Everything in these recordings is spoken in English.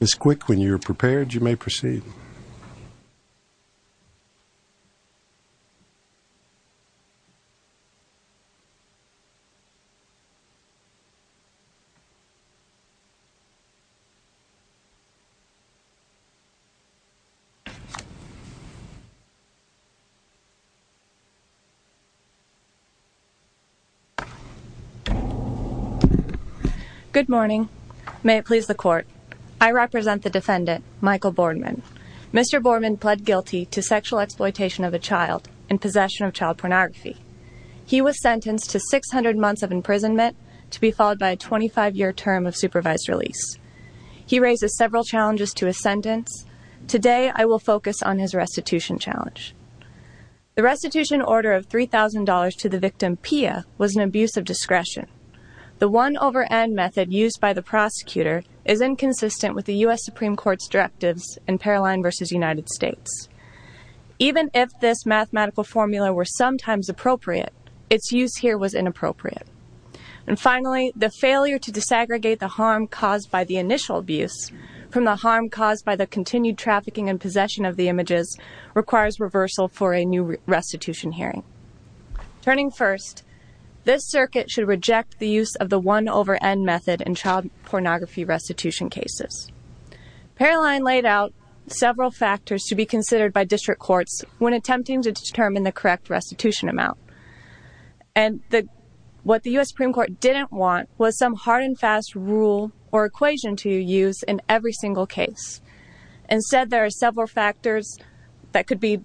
Ms. Quick, when you are prepared, you may proceed. Good morning. May it please the court. I represent the defendant, Michael Bordman. Mr. Bordman pled guilty to sexual exploitation of a child in possession of child pornography. He was sentenced to 600 months of imprisonment to be followed by a 25-year term of supervised release. He raises several challenges to his sentence. Today, I will focus on his restitution challenge. The restitution order of $3,000 to the victim, Pia, was an abuse of discretion. The one-over-N method used by the prosecutor is inconsistent with the U.S. Supreme Court's directives in Paroline v. United States. Even if this mathematical formula were sometimes appropriate, its use here was inappropriate. And finally, the failure to disaggregate the harm caused by the initial abuse from the harm caused by the continued trafficking and possession of the images requires reversal for a new restitution hearing. Turning first, this circuit should reject the use of the one-over-N method in child pornography restitution cases. Paroline laid out several factors to be considered by district courts when attempting to determine the correct restitution amount. And what the U.S. Supreme Court didn't want was some hard-and-fast rule or equation to use in every single case. Instead, there are several factors that could be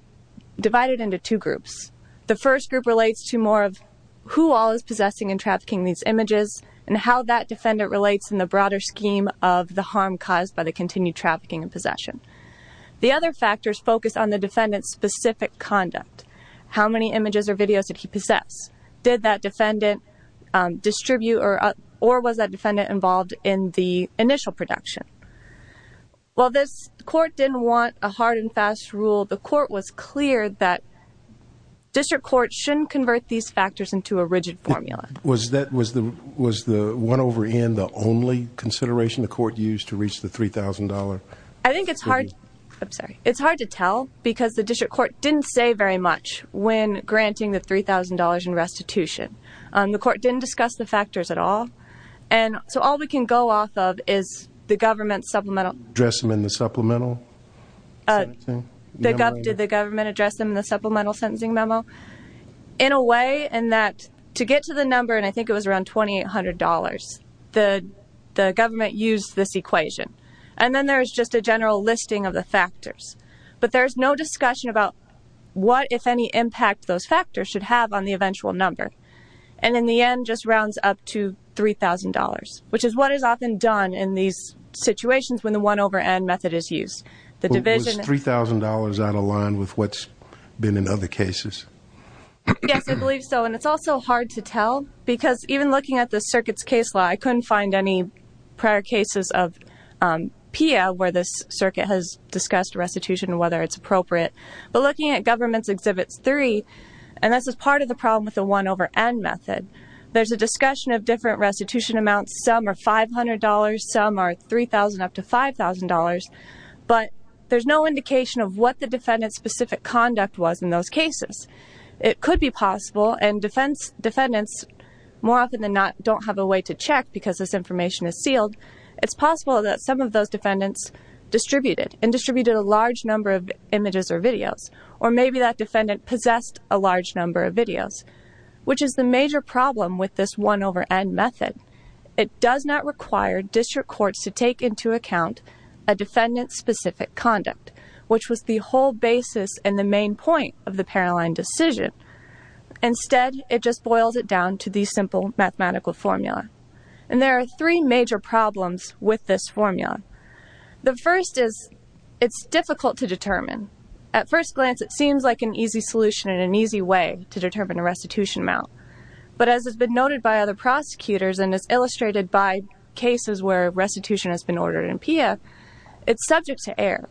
divided into two groups. The first group relates to more of who all is possessing and trafficking these images and how that defendant relates in the broader scheme of the harm caused by the continued trafficking and possession. The other factors focus on the defendant's specific conduct. How many images or videos did he possess? Did that defendant distribute or was that defendant involved in the initial production? While this court didn't want a hard-and-fast rule, the court was clear that district courts shouldn't convert these factors into a rigid formula. Was the one-over-N the only consideration the court used to reach the $3,000? I think it's hard to tell because the district court didn't say very much when granting the $3,000 in restitution. The court didn't discuss the factors at all. And so all we can go off of is the government's supplemental... Address them in the supplemental? Did the government address them in the supplemental sentencing memo? In a way, in that to get to the number, and I think it was around $2,800, the government used this equation. And then there's just a general listing of the factors. But there's no discussion about what, if any, impact those factors should have on the eventual number. And in the end just rounds up to $3,000, which is what is often done in these situations when the one-over-N method is used. Was $3,000 out of line with what's been in other cases? Yes, I believe so. And it's also hard to tell because even looking at the circuit's case law, I couldn't find any prior cases of PIA where this circuit has discussed restitution and whether it's appropriate. But looking at government's exhibits 3, and this is part of the problem with the one-over-N method, there's a discussion of different restitution amounts. Some are $500, some are $3,000 up to $5,000, but there's no indication of what the defendant's specific conduct was in those cases. It could be possible, and defendants more don't have a way to check because this information is sealed, it's possible that some of those defendants distributed and distributed a large number of images or videos, or maybe that defendant possessed a large number of videos, which is the major problem with this one-over-N method. It does not require district courts to take into account a defendant's specific conduct, which was the whole basis and the main point of the Paroline decision. Instead, it just boils it down to these simple mathematical formula, and there are three major problems with this formula. The first is, it's difficult to determine. At first glance, it seems like an easy solution and an easy way to determine a restitution amount, but as has been noted by other prosecutors and is illustrated by cases where restitution has been ordered in PIA, it's subject to error.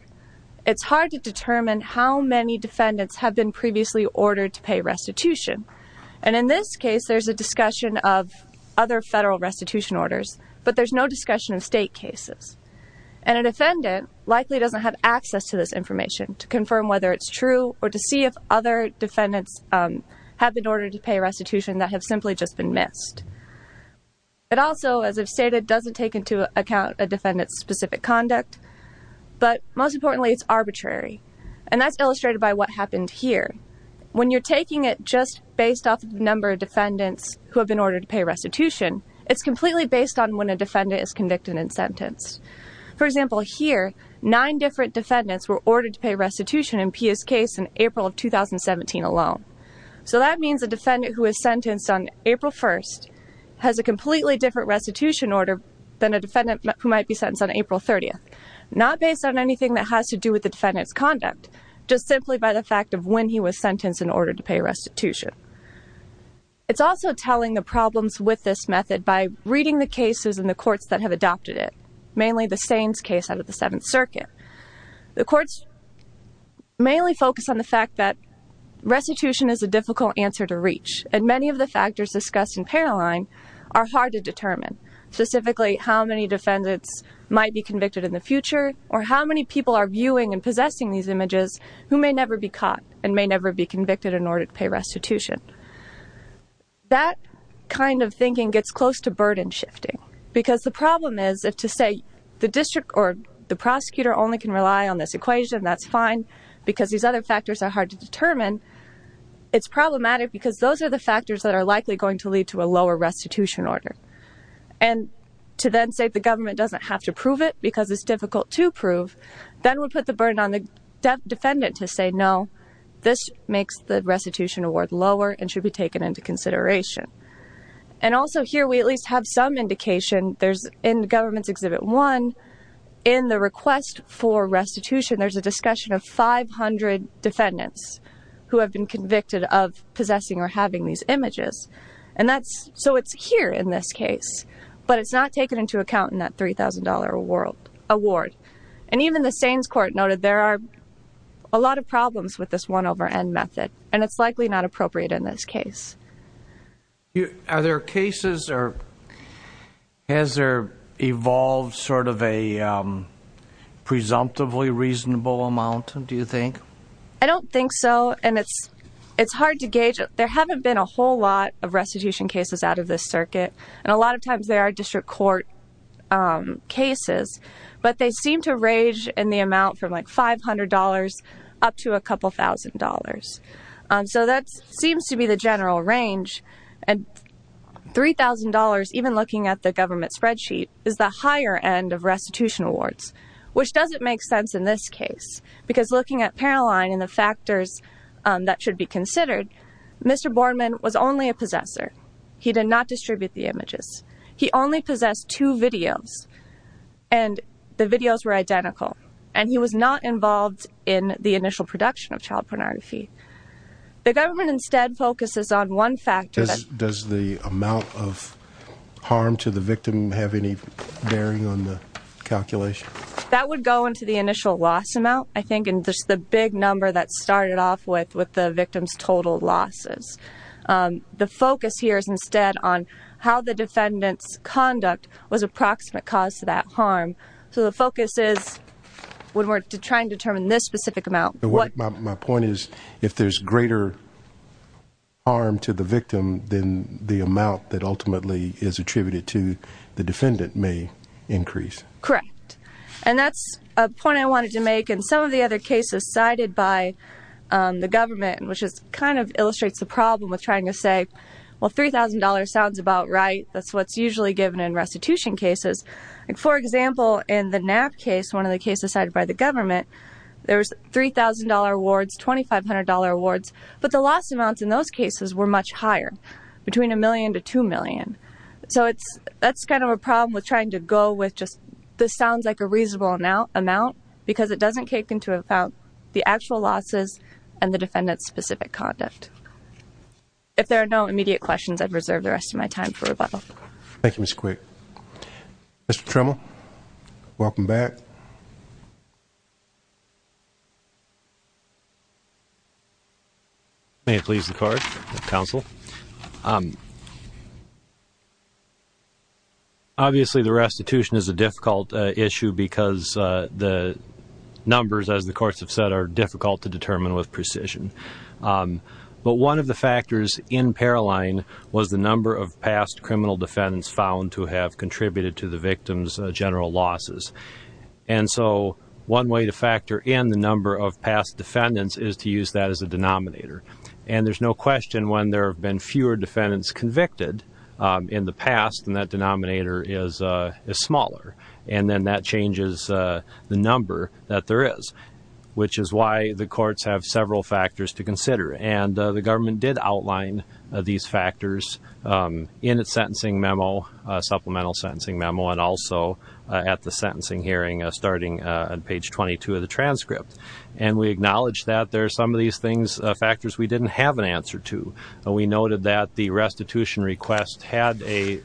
It's hard to determine how many defendants have been previously ordered to pay restitution, and in this case, there's a discussion of other federal restitution orders, but there's no discussion of state cases, and a defendant likely doesn't have access to this information to confirm whether it's true or to see if other defendants have been ordered to pay restitution that have simply just been missed. It also, as I've stated, doesn't take into account a defendant's specific conduct, but most importantly, it's arbitrary, and that's illustrated by what happened here. When you're taking it just based off the number of defendants who have been ordered to pay restitution, it's completely based on when a defendant is convicted and sentenced. For example, here, nine different defendants were ordered to pay restitution in PIA's case in April of 2017 alone, so that means a defendant who is sentenced on April 1st has a completely different restitution order than a defendant who might be sentenced on April 30th, not based on anything that has to do with the defendant's conduct, just simply by the fact of when he was sentenced in order to pay restitution. It's also telling the problems with this method by reading the cases in the courts that have adopted it, mainly the Saines case out of the Seventh Circuit. The courts mainly focus on the fact that restitution is a difficult answer to reach, and many of the factors discussed in Paralline are hard to determine, specifically how many are viewing and possessing these images who may never be caught and may never be convicted in order to pay restitution. That kind of thinking gets close to burden shifting, because the problem is if to say the district or the prosecutor only can rely on this equation, that's fine, because these other factors are hard to determine, it's problematic because those are the factors that are likely going to lead to a lower restitution order. And to then say the government doesn't have to prove it because it's difficult to prove, that would put the burden on the defendant to say, no, this makes the restitution award lower and should be taken into consideration. And also here we at least have some indication, there's in the government's Exhibit 1, in the request for restitution, there's a discussion of 500 defendants who have been convicted of possessing or having these images. And that's, so it's here in this case, but it's not taken into account in that $3,000 award. And even the Saines Court noted there are a lot of problems with this one over end method, and it's likely not appropriate in this case. Are there cases or has there evolved sort of a presumptively reasonable amount, do you think? I don't think so, and it's hard to gauge. There haven't been a whole lot of restitution cases out of this circuit, and a lot of times there are district court cases, but they seem to range in the amount from like $500 up to a couple thousand dollars. So that seems to be the general range. And $3,000, even looking at the government spreadsheet, is the higher end of restitution awards, which doesn't make sense in this case, because looking at Paroline and the factors that should be considered, Mr. Borman was only a possessor. He did not distribute the images. He only possessed two videos, and the videos were identical. And he was not involved in the initial production of child pornography. The government instead focuses on one factor. Does the amount of harm to the victim have any bearing on the calculation? That would go into the initial loss amount, I think, and just the big number that started off with the victim's total losses. The focus here is instead on how the defendant's conduct was approximate cause to that harm. So the focus is when we're trying to determine this specific amount. My point is, if there's greater harm to the victim, then the amount that ultimately is attributed to the defendant may increase. Correct. And that's a point I wanted to make. In some of the other cases cited by the government, which kind of illustrates the problem with trying to say, well, $3,000 sounds about right. That's what's usually given in restitution cases. For example, in the Knapp case, one of the cases cited by the government, there's $3,000 awards, $2,500 awards, but the loss amounts in those cases were much higher, between $1,000,000 to $2,000,000. So that's kind of a problem with trying to go with just, this sounds like a reasonable amount because it doesn't kick into account the actual losses and the defendant's specific conduct. If there are no immediate questions, I'd reserve the rest of my time for rebuttal. Thank you, Ms. Quick. Mr. Trimmell, welcome back. May it please the Court, Counsel. Obviously, the restitution is a difficult issue because the numbers, as the courts have said, are difficult to determine with precision. But one of the factors in Paroline was the number of past criminal defendants found to have contributed to the victim's general losses. And so one way to factor in the number of past defendants is to use that as a denominator. And there's no question when there have been fewer defendants convicted in the past, then that denominator is smaller. And then that changes the number that there is, which is why the courts have several factors to consider. And the government did outline these factors in its sentencing memo, supplemental sentencing memo, and also at the sentencing hearing starting on page 22 of the transcript. And we acknowledge that there are some of these factors we didn't have an answer to. We noted that the restitution request had a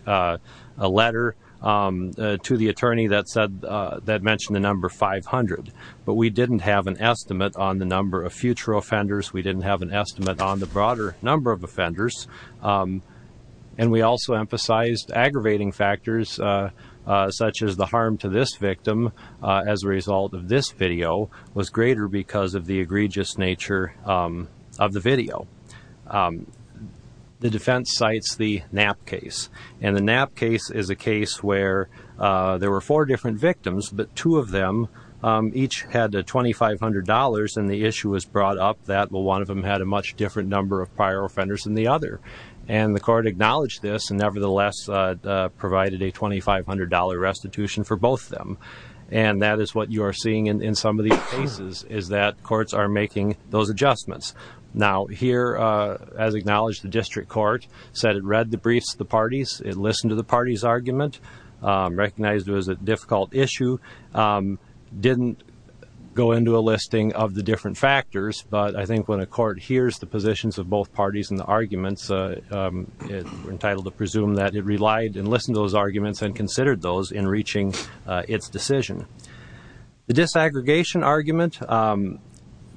letter to the attorney that mentioned the number 500. But we didn't have an estimate on the number of future offenders. We didn't have an estimate on the broader number of offenders. And we also emphasized aggravating factors, such as the harm to this victim, as a result of this video, was greater because of the egregious nature of the video. The defense cites the Knapp case. And the Knapp case is a case where there were four different victims, but two of them each had $2,500. And the issue was brought up that one of them had a much different number of prior offenders than the other. And the court acknowledged this and nevertheless provided a $2,500 restitution for both of them. And that is what you are seeing in some of these cases, is that courts are making those adjustments. Now, here, as acknowledged, the district court said it read the briefs to the parties, it listened to the parties' argument, recognized it was a difficult issue, didn't go into a listing of the different factors. But I think when a court hears the positions of both parties and the arguments, it's entitled to presume that it relied and listened to those arguments and considered those in reaching its decision. The disaggregation argument,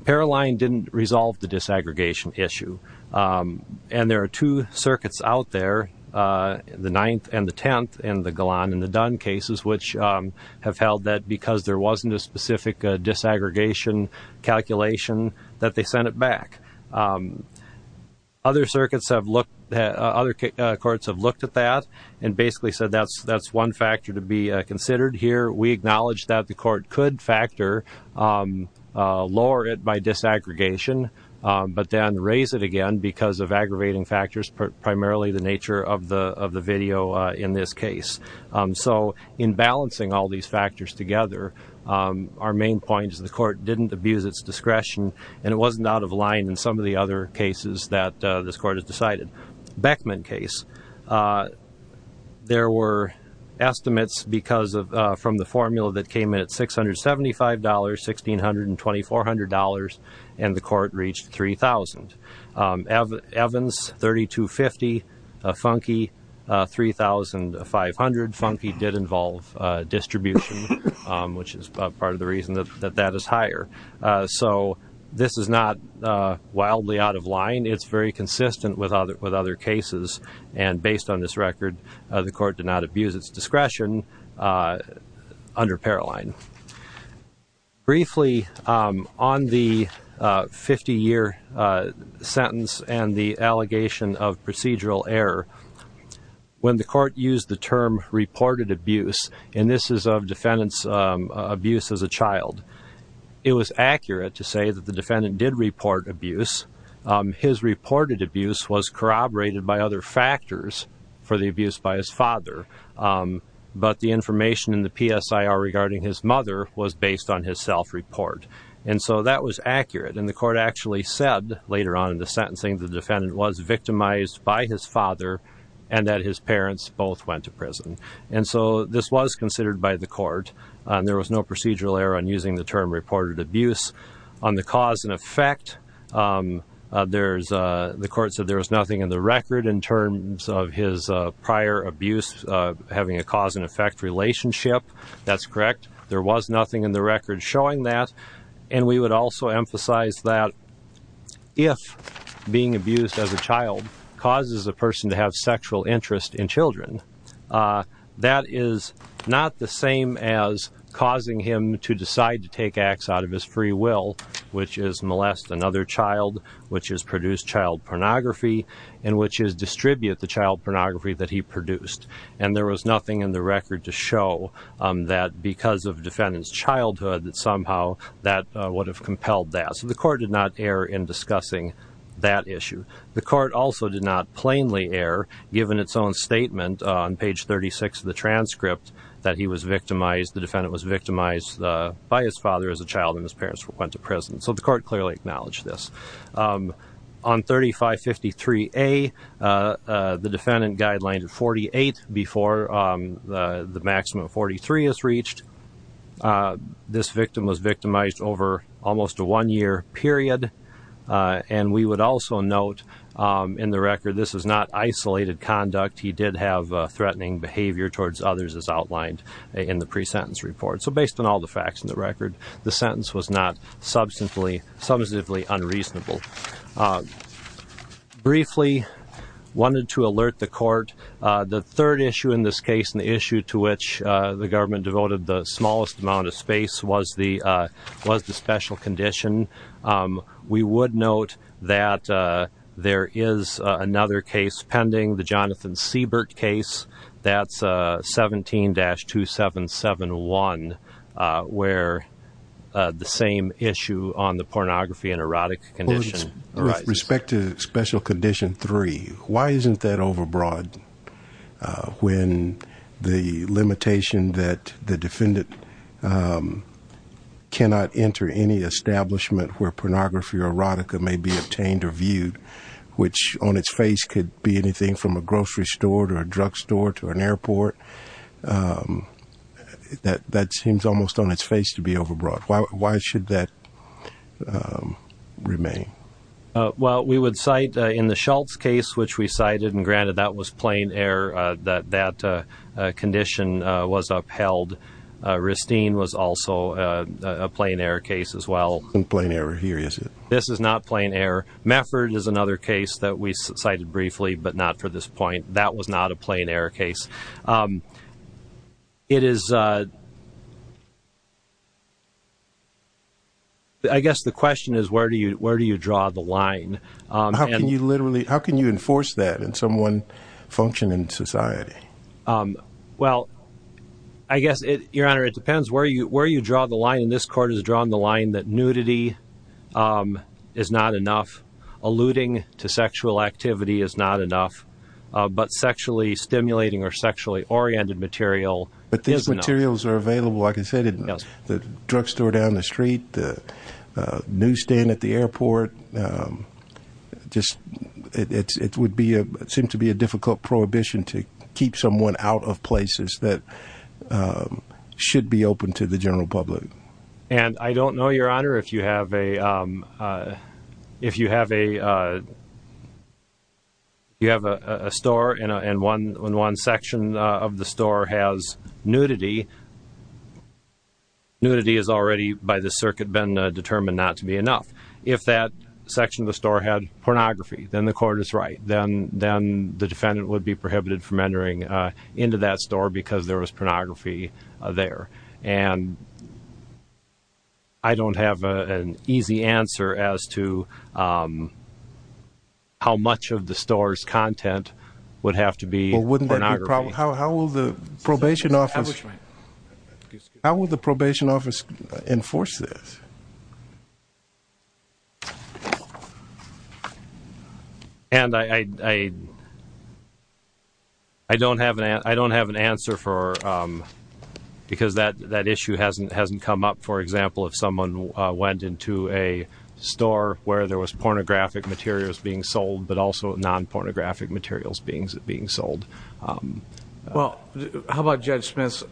Paroline didn't resolve the disaggregation issue. And there are two circuits out there, the Ninth and the Tenth and the Galan and the Dunn cases, which have held that because there wasn't a specific disaggregation calculation, that they sent it back. Other courts have looked at that and basically said that's one factor to be considered here. We acknowledge that the court could factor lower it by disaggregation, but then raise it again because of aggravating factors, primarily the nature of the video in this case. So in balancing all these factors together, our main point is the court didn't abuse its discretion and it wasn't out of line in some of the other cases that this court has decided. Beckman case, there were estimates from the formula that came in at $675, $1,624, and the court reached $3,000. Evans, $3,250. Funke, $3,500. Funke did involve distribution, which is part of the reason that that is higher. So this is not wildly out of line. It's very consistent with other cases. And based on this record, the court did not abuse its discretion under Paroline. Briefly, on the 50-year sentence and the allegation of procedural error, when the court used the term reported abuse, and this is of defendants' abuse as a child, it was accurate to say that the defendant did report abuse. His reported abuse was corroborated by other factors for the abuse by his father, but the information in the PSIR regarding his mother was based on his self-report. And so that was accurate. And the court actually said later on in the sentencing, the defendant was victimized by his father and that his parents both went to prison. And so this was considered by the court. There was no procedural error on using the term in terms of his prior abuse, having a cause and effect relationship. That's correct. There was nothing in the record showing that. And we would also emphasize that if being abused as a child causes a person to have sexual interest in children, that is not the same as causing him to decide to take acts out of his free will, which is molest another child, which has produced child pornography, and which is distribute the child pornography that he produced. And there was nothing in the record to show that because of defendant's childhood that somehow that would have compelled that. So the court did not err in discussing that issue. The court also did not plainly err, given its own statement on page 36 of the transcript that he was victimized, the defendant was victimized by his father as a child and his parents went to prison. So the defendant was convicted. The defendant was convicted. The defendant was convicted by 53A. The defendant guideline to 48 before the maximum of 43 is reached. This victim was victimized over almost a one-year period. And we would also note in the record, this is not isolated conduct. He did have threatening behavior towards others as outlined in the pre-sentence report. So based on all the briefly wanted to alert the court, the third issue in this case and the issue to which the government devoted the smallest amount of space was the special condition. We would note that there is another case pending, the Jonathan Siebert case, that's 17-2771, where the same issue on the pornography and erotic condition. With respect to special condition three, why isn't that overbroad when the limitation that the defendant cannot enter any establishment where pornography or erotica may be obtained or viewed, which on its face could be anything from a grocery store to a drug store to an airport. That seems almost on its face to be overbroad. Why should that remain? Well, we would cite in the Schultz case, which we cited and granted that was plain error, that that condition was upheld. Ristine was also a plain error case as well. Plain error here, is it? This is not plain error. Mefford is another case that we cited briefly, but not for this point. That was not a plain error case. I guess the question is, where do you draw the line? How can you enforce that in someone functioning in society? Well, I guess, Your Honor, it depends where you draw the line. This court has drawn the line that alluding to sexual activity is not enough, but sexually stimulating or sexually oriented material is enough. But these materials are available, like I said, in the drug store down the street, the newsstand at the airport. It would seem to be a difficult prohibition to keep someone out of places that should be open to the general public. And I don't know, Your Honor, if you have a store and one section of the store has nudity. Nudity is already by the circuit been determined not to be enough. If that section of the store had pornography, then the court is right. Then the defendant would be prohibited from entering into that store because there was pornography there. And I don't have an easy answer as to how much of the store's content would have to be pornography. Well, wouldn't that be a problem? How will the probation office enforce this? And I don't have an answer because that issue hasn't come up. For example, if someone went into a store where there was pornographic materials being sold, but also non-pornographic materials being sold. Well, how about Judge Smith's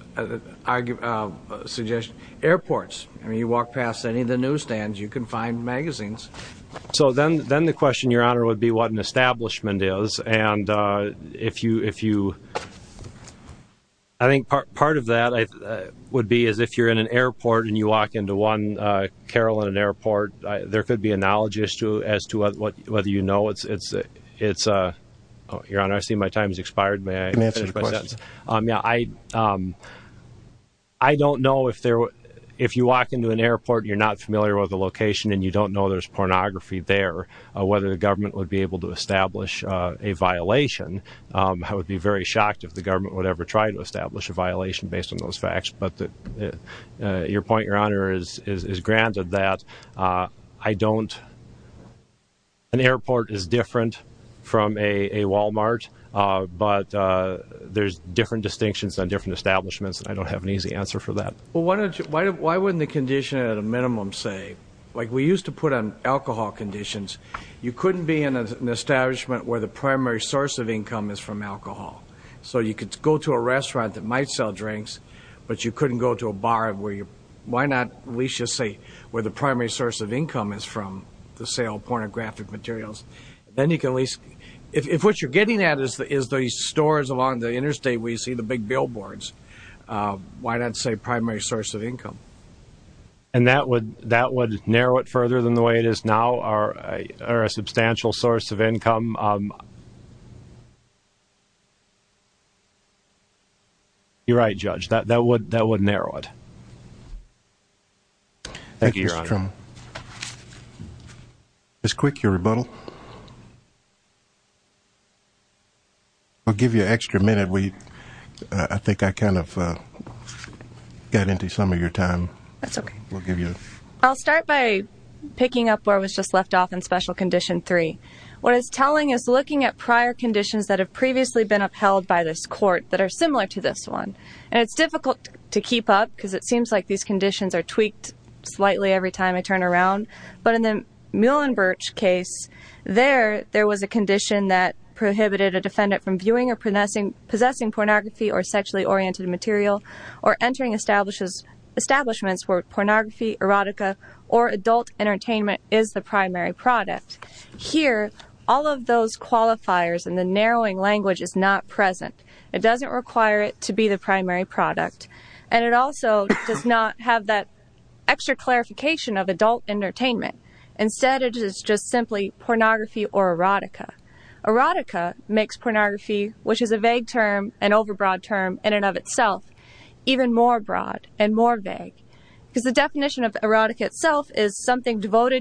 suggestion? Airports. I mean, you walk past any of the newsstands, you can find magazines. So then the question, Your Honor, would be what an establishment is. And if you, I think part of that would be as if you're in an airport and you walk into one carol in an airport, there could be a knowledge issue as to whether you know it's a, Your Honor, I see my time has expired. May I finish my sentence? I don't know if you walk into an airport and you're not familiar with the location and you don't know there's pornography there, whether the government would be able to establish a violation. I would be very shocked if the government would ever try to establish a violation based on those facts. But your point, Your Honor, is granted that I don't know. An airport is different from a Walmart, but there's different distinctions on different establishments. I don't have an easy answer for that. Well, why wouldn't the condition at a minimum say, like we used to put on alcohol conditions, you couldn't be in an establishment where the primary source of income is from alcohol. So you could go to a restaurant that might sell drinks, but you couldn't go to a bar where you, why not at least just say where the primary source of income is from the sale of pornographic materials. Then you can at least, if what you're getting at is the stores along the interstate where you see the big billboards, why not say primary source of income? And that would narrow it further than the way it is now, or a substantial source of income. You're right, Judge, that would narrow it. Thank you, Your Honor. Ms. Quick, your rebuttal. I'll give you an extra minute. I think I kind of got into some of your time. That's okay. I'll start by picking up where I was just left off in Special Condition 3. What it's telling is looking at prior conditions that have previously been upheld by this court that are similar to this one. And it's difficult to keep up because it seems like these conditions are tweaked slightly every time I turn around. But in the Muhlenberg case, there was a condition that prohibited a defendant from viewing or possessing pornography or sexually oriented material or entering establishments where pornography, erotica, or adult entertainment is the primary product. Here, all of those qualifiers and the narrowing language is not present. It doesn't require it to be the primary product. And it also does not have that extra clarification of adult entertainment. Instead, it is just simply pornography or erotica. Erotica makes pornography, which is a vague term, an overbroad term in and of itself, even more broad and more vague. Because the definition of erotica itself is something like that,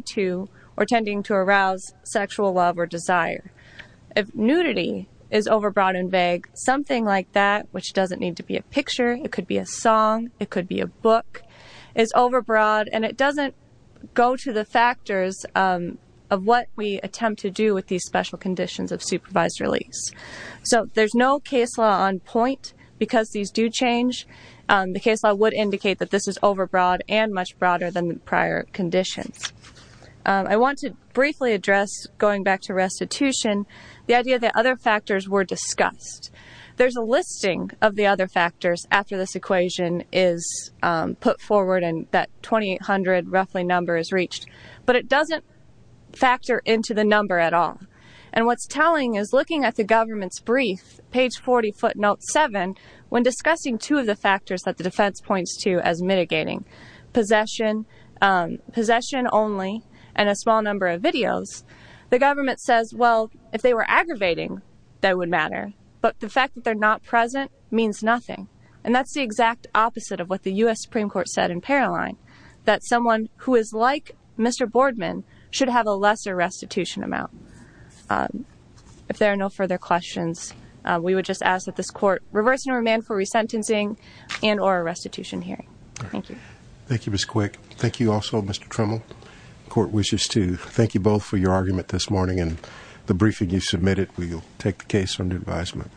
which doesn't need to be a picture. It could be a song. It could be a book. It's overbroad. And it doesn't go to the factors of what we attempt to do with these special conditions of supervised release. So there's no case law on point because these do change. The case law would indicate that this is overbroad and much broader than the prior conditions. I want to briefly address, going back to restitution, the idea that other factors were discussed. There's a listing of the other factors after this equation is put forward and that 2800 roughly number is reached, but it doesn't factor into the number at all. And what's telling is looking at the government's brief, page 40 foot note seven, when discussing two of the factors that the defense points to as mitigating possession, possession only, and a small number of videos, the government says, well, if they were aggravating, that would matter. But the fact that they're not present means nothing. And that's the exact opposite of what the U.S. Supreme Court said in Paroline, that someone who is like Mr. Boardman should have a lesser restitution amount. If there are no further questions, we would just ask that this court reverse and remand for hearing. Thank you. Thank you, Ms. Quick. Thank you also, Mr. Trimmel. Court wishes to thank you both for your argument this morning and the briefing you submitted. We will take the case under advisement.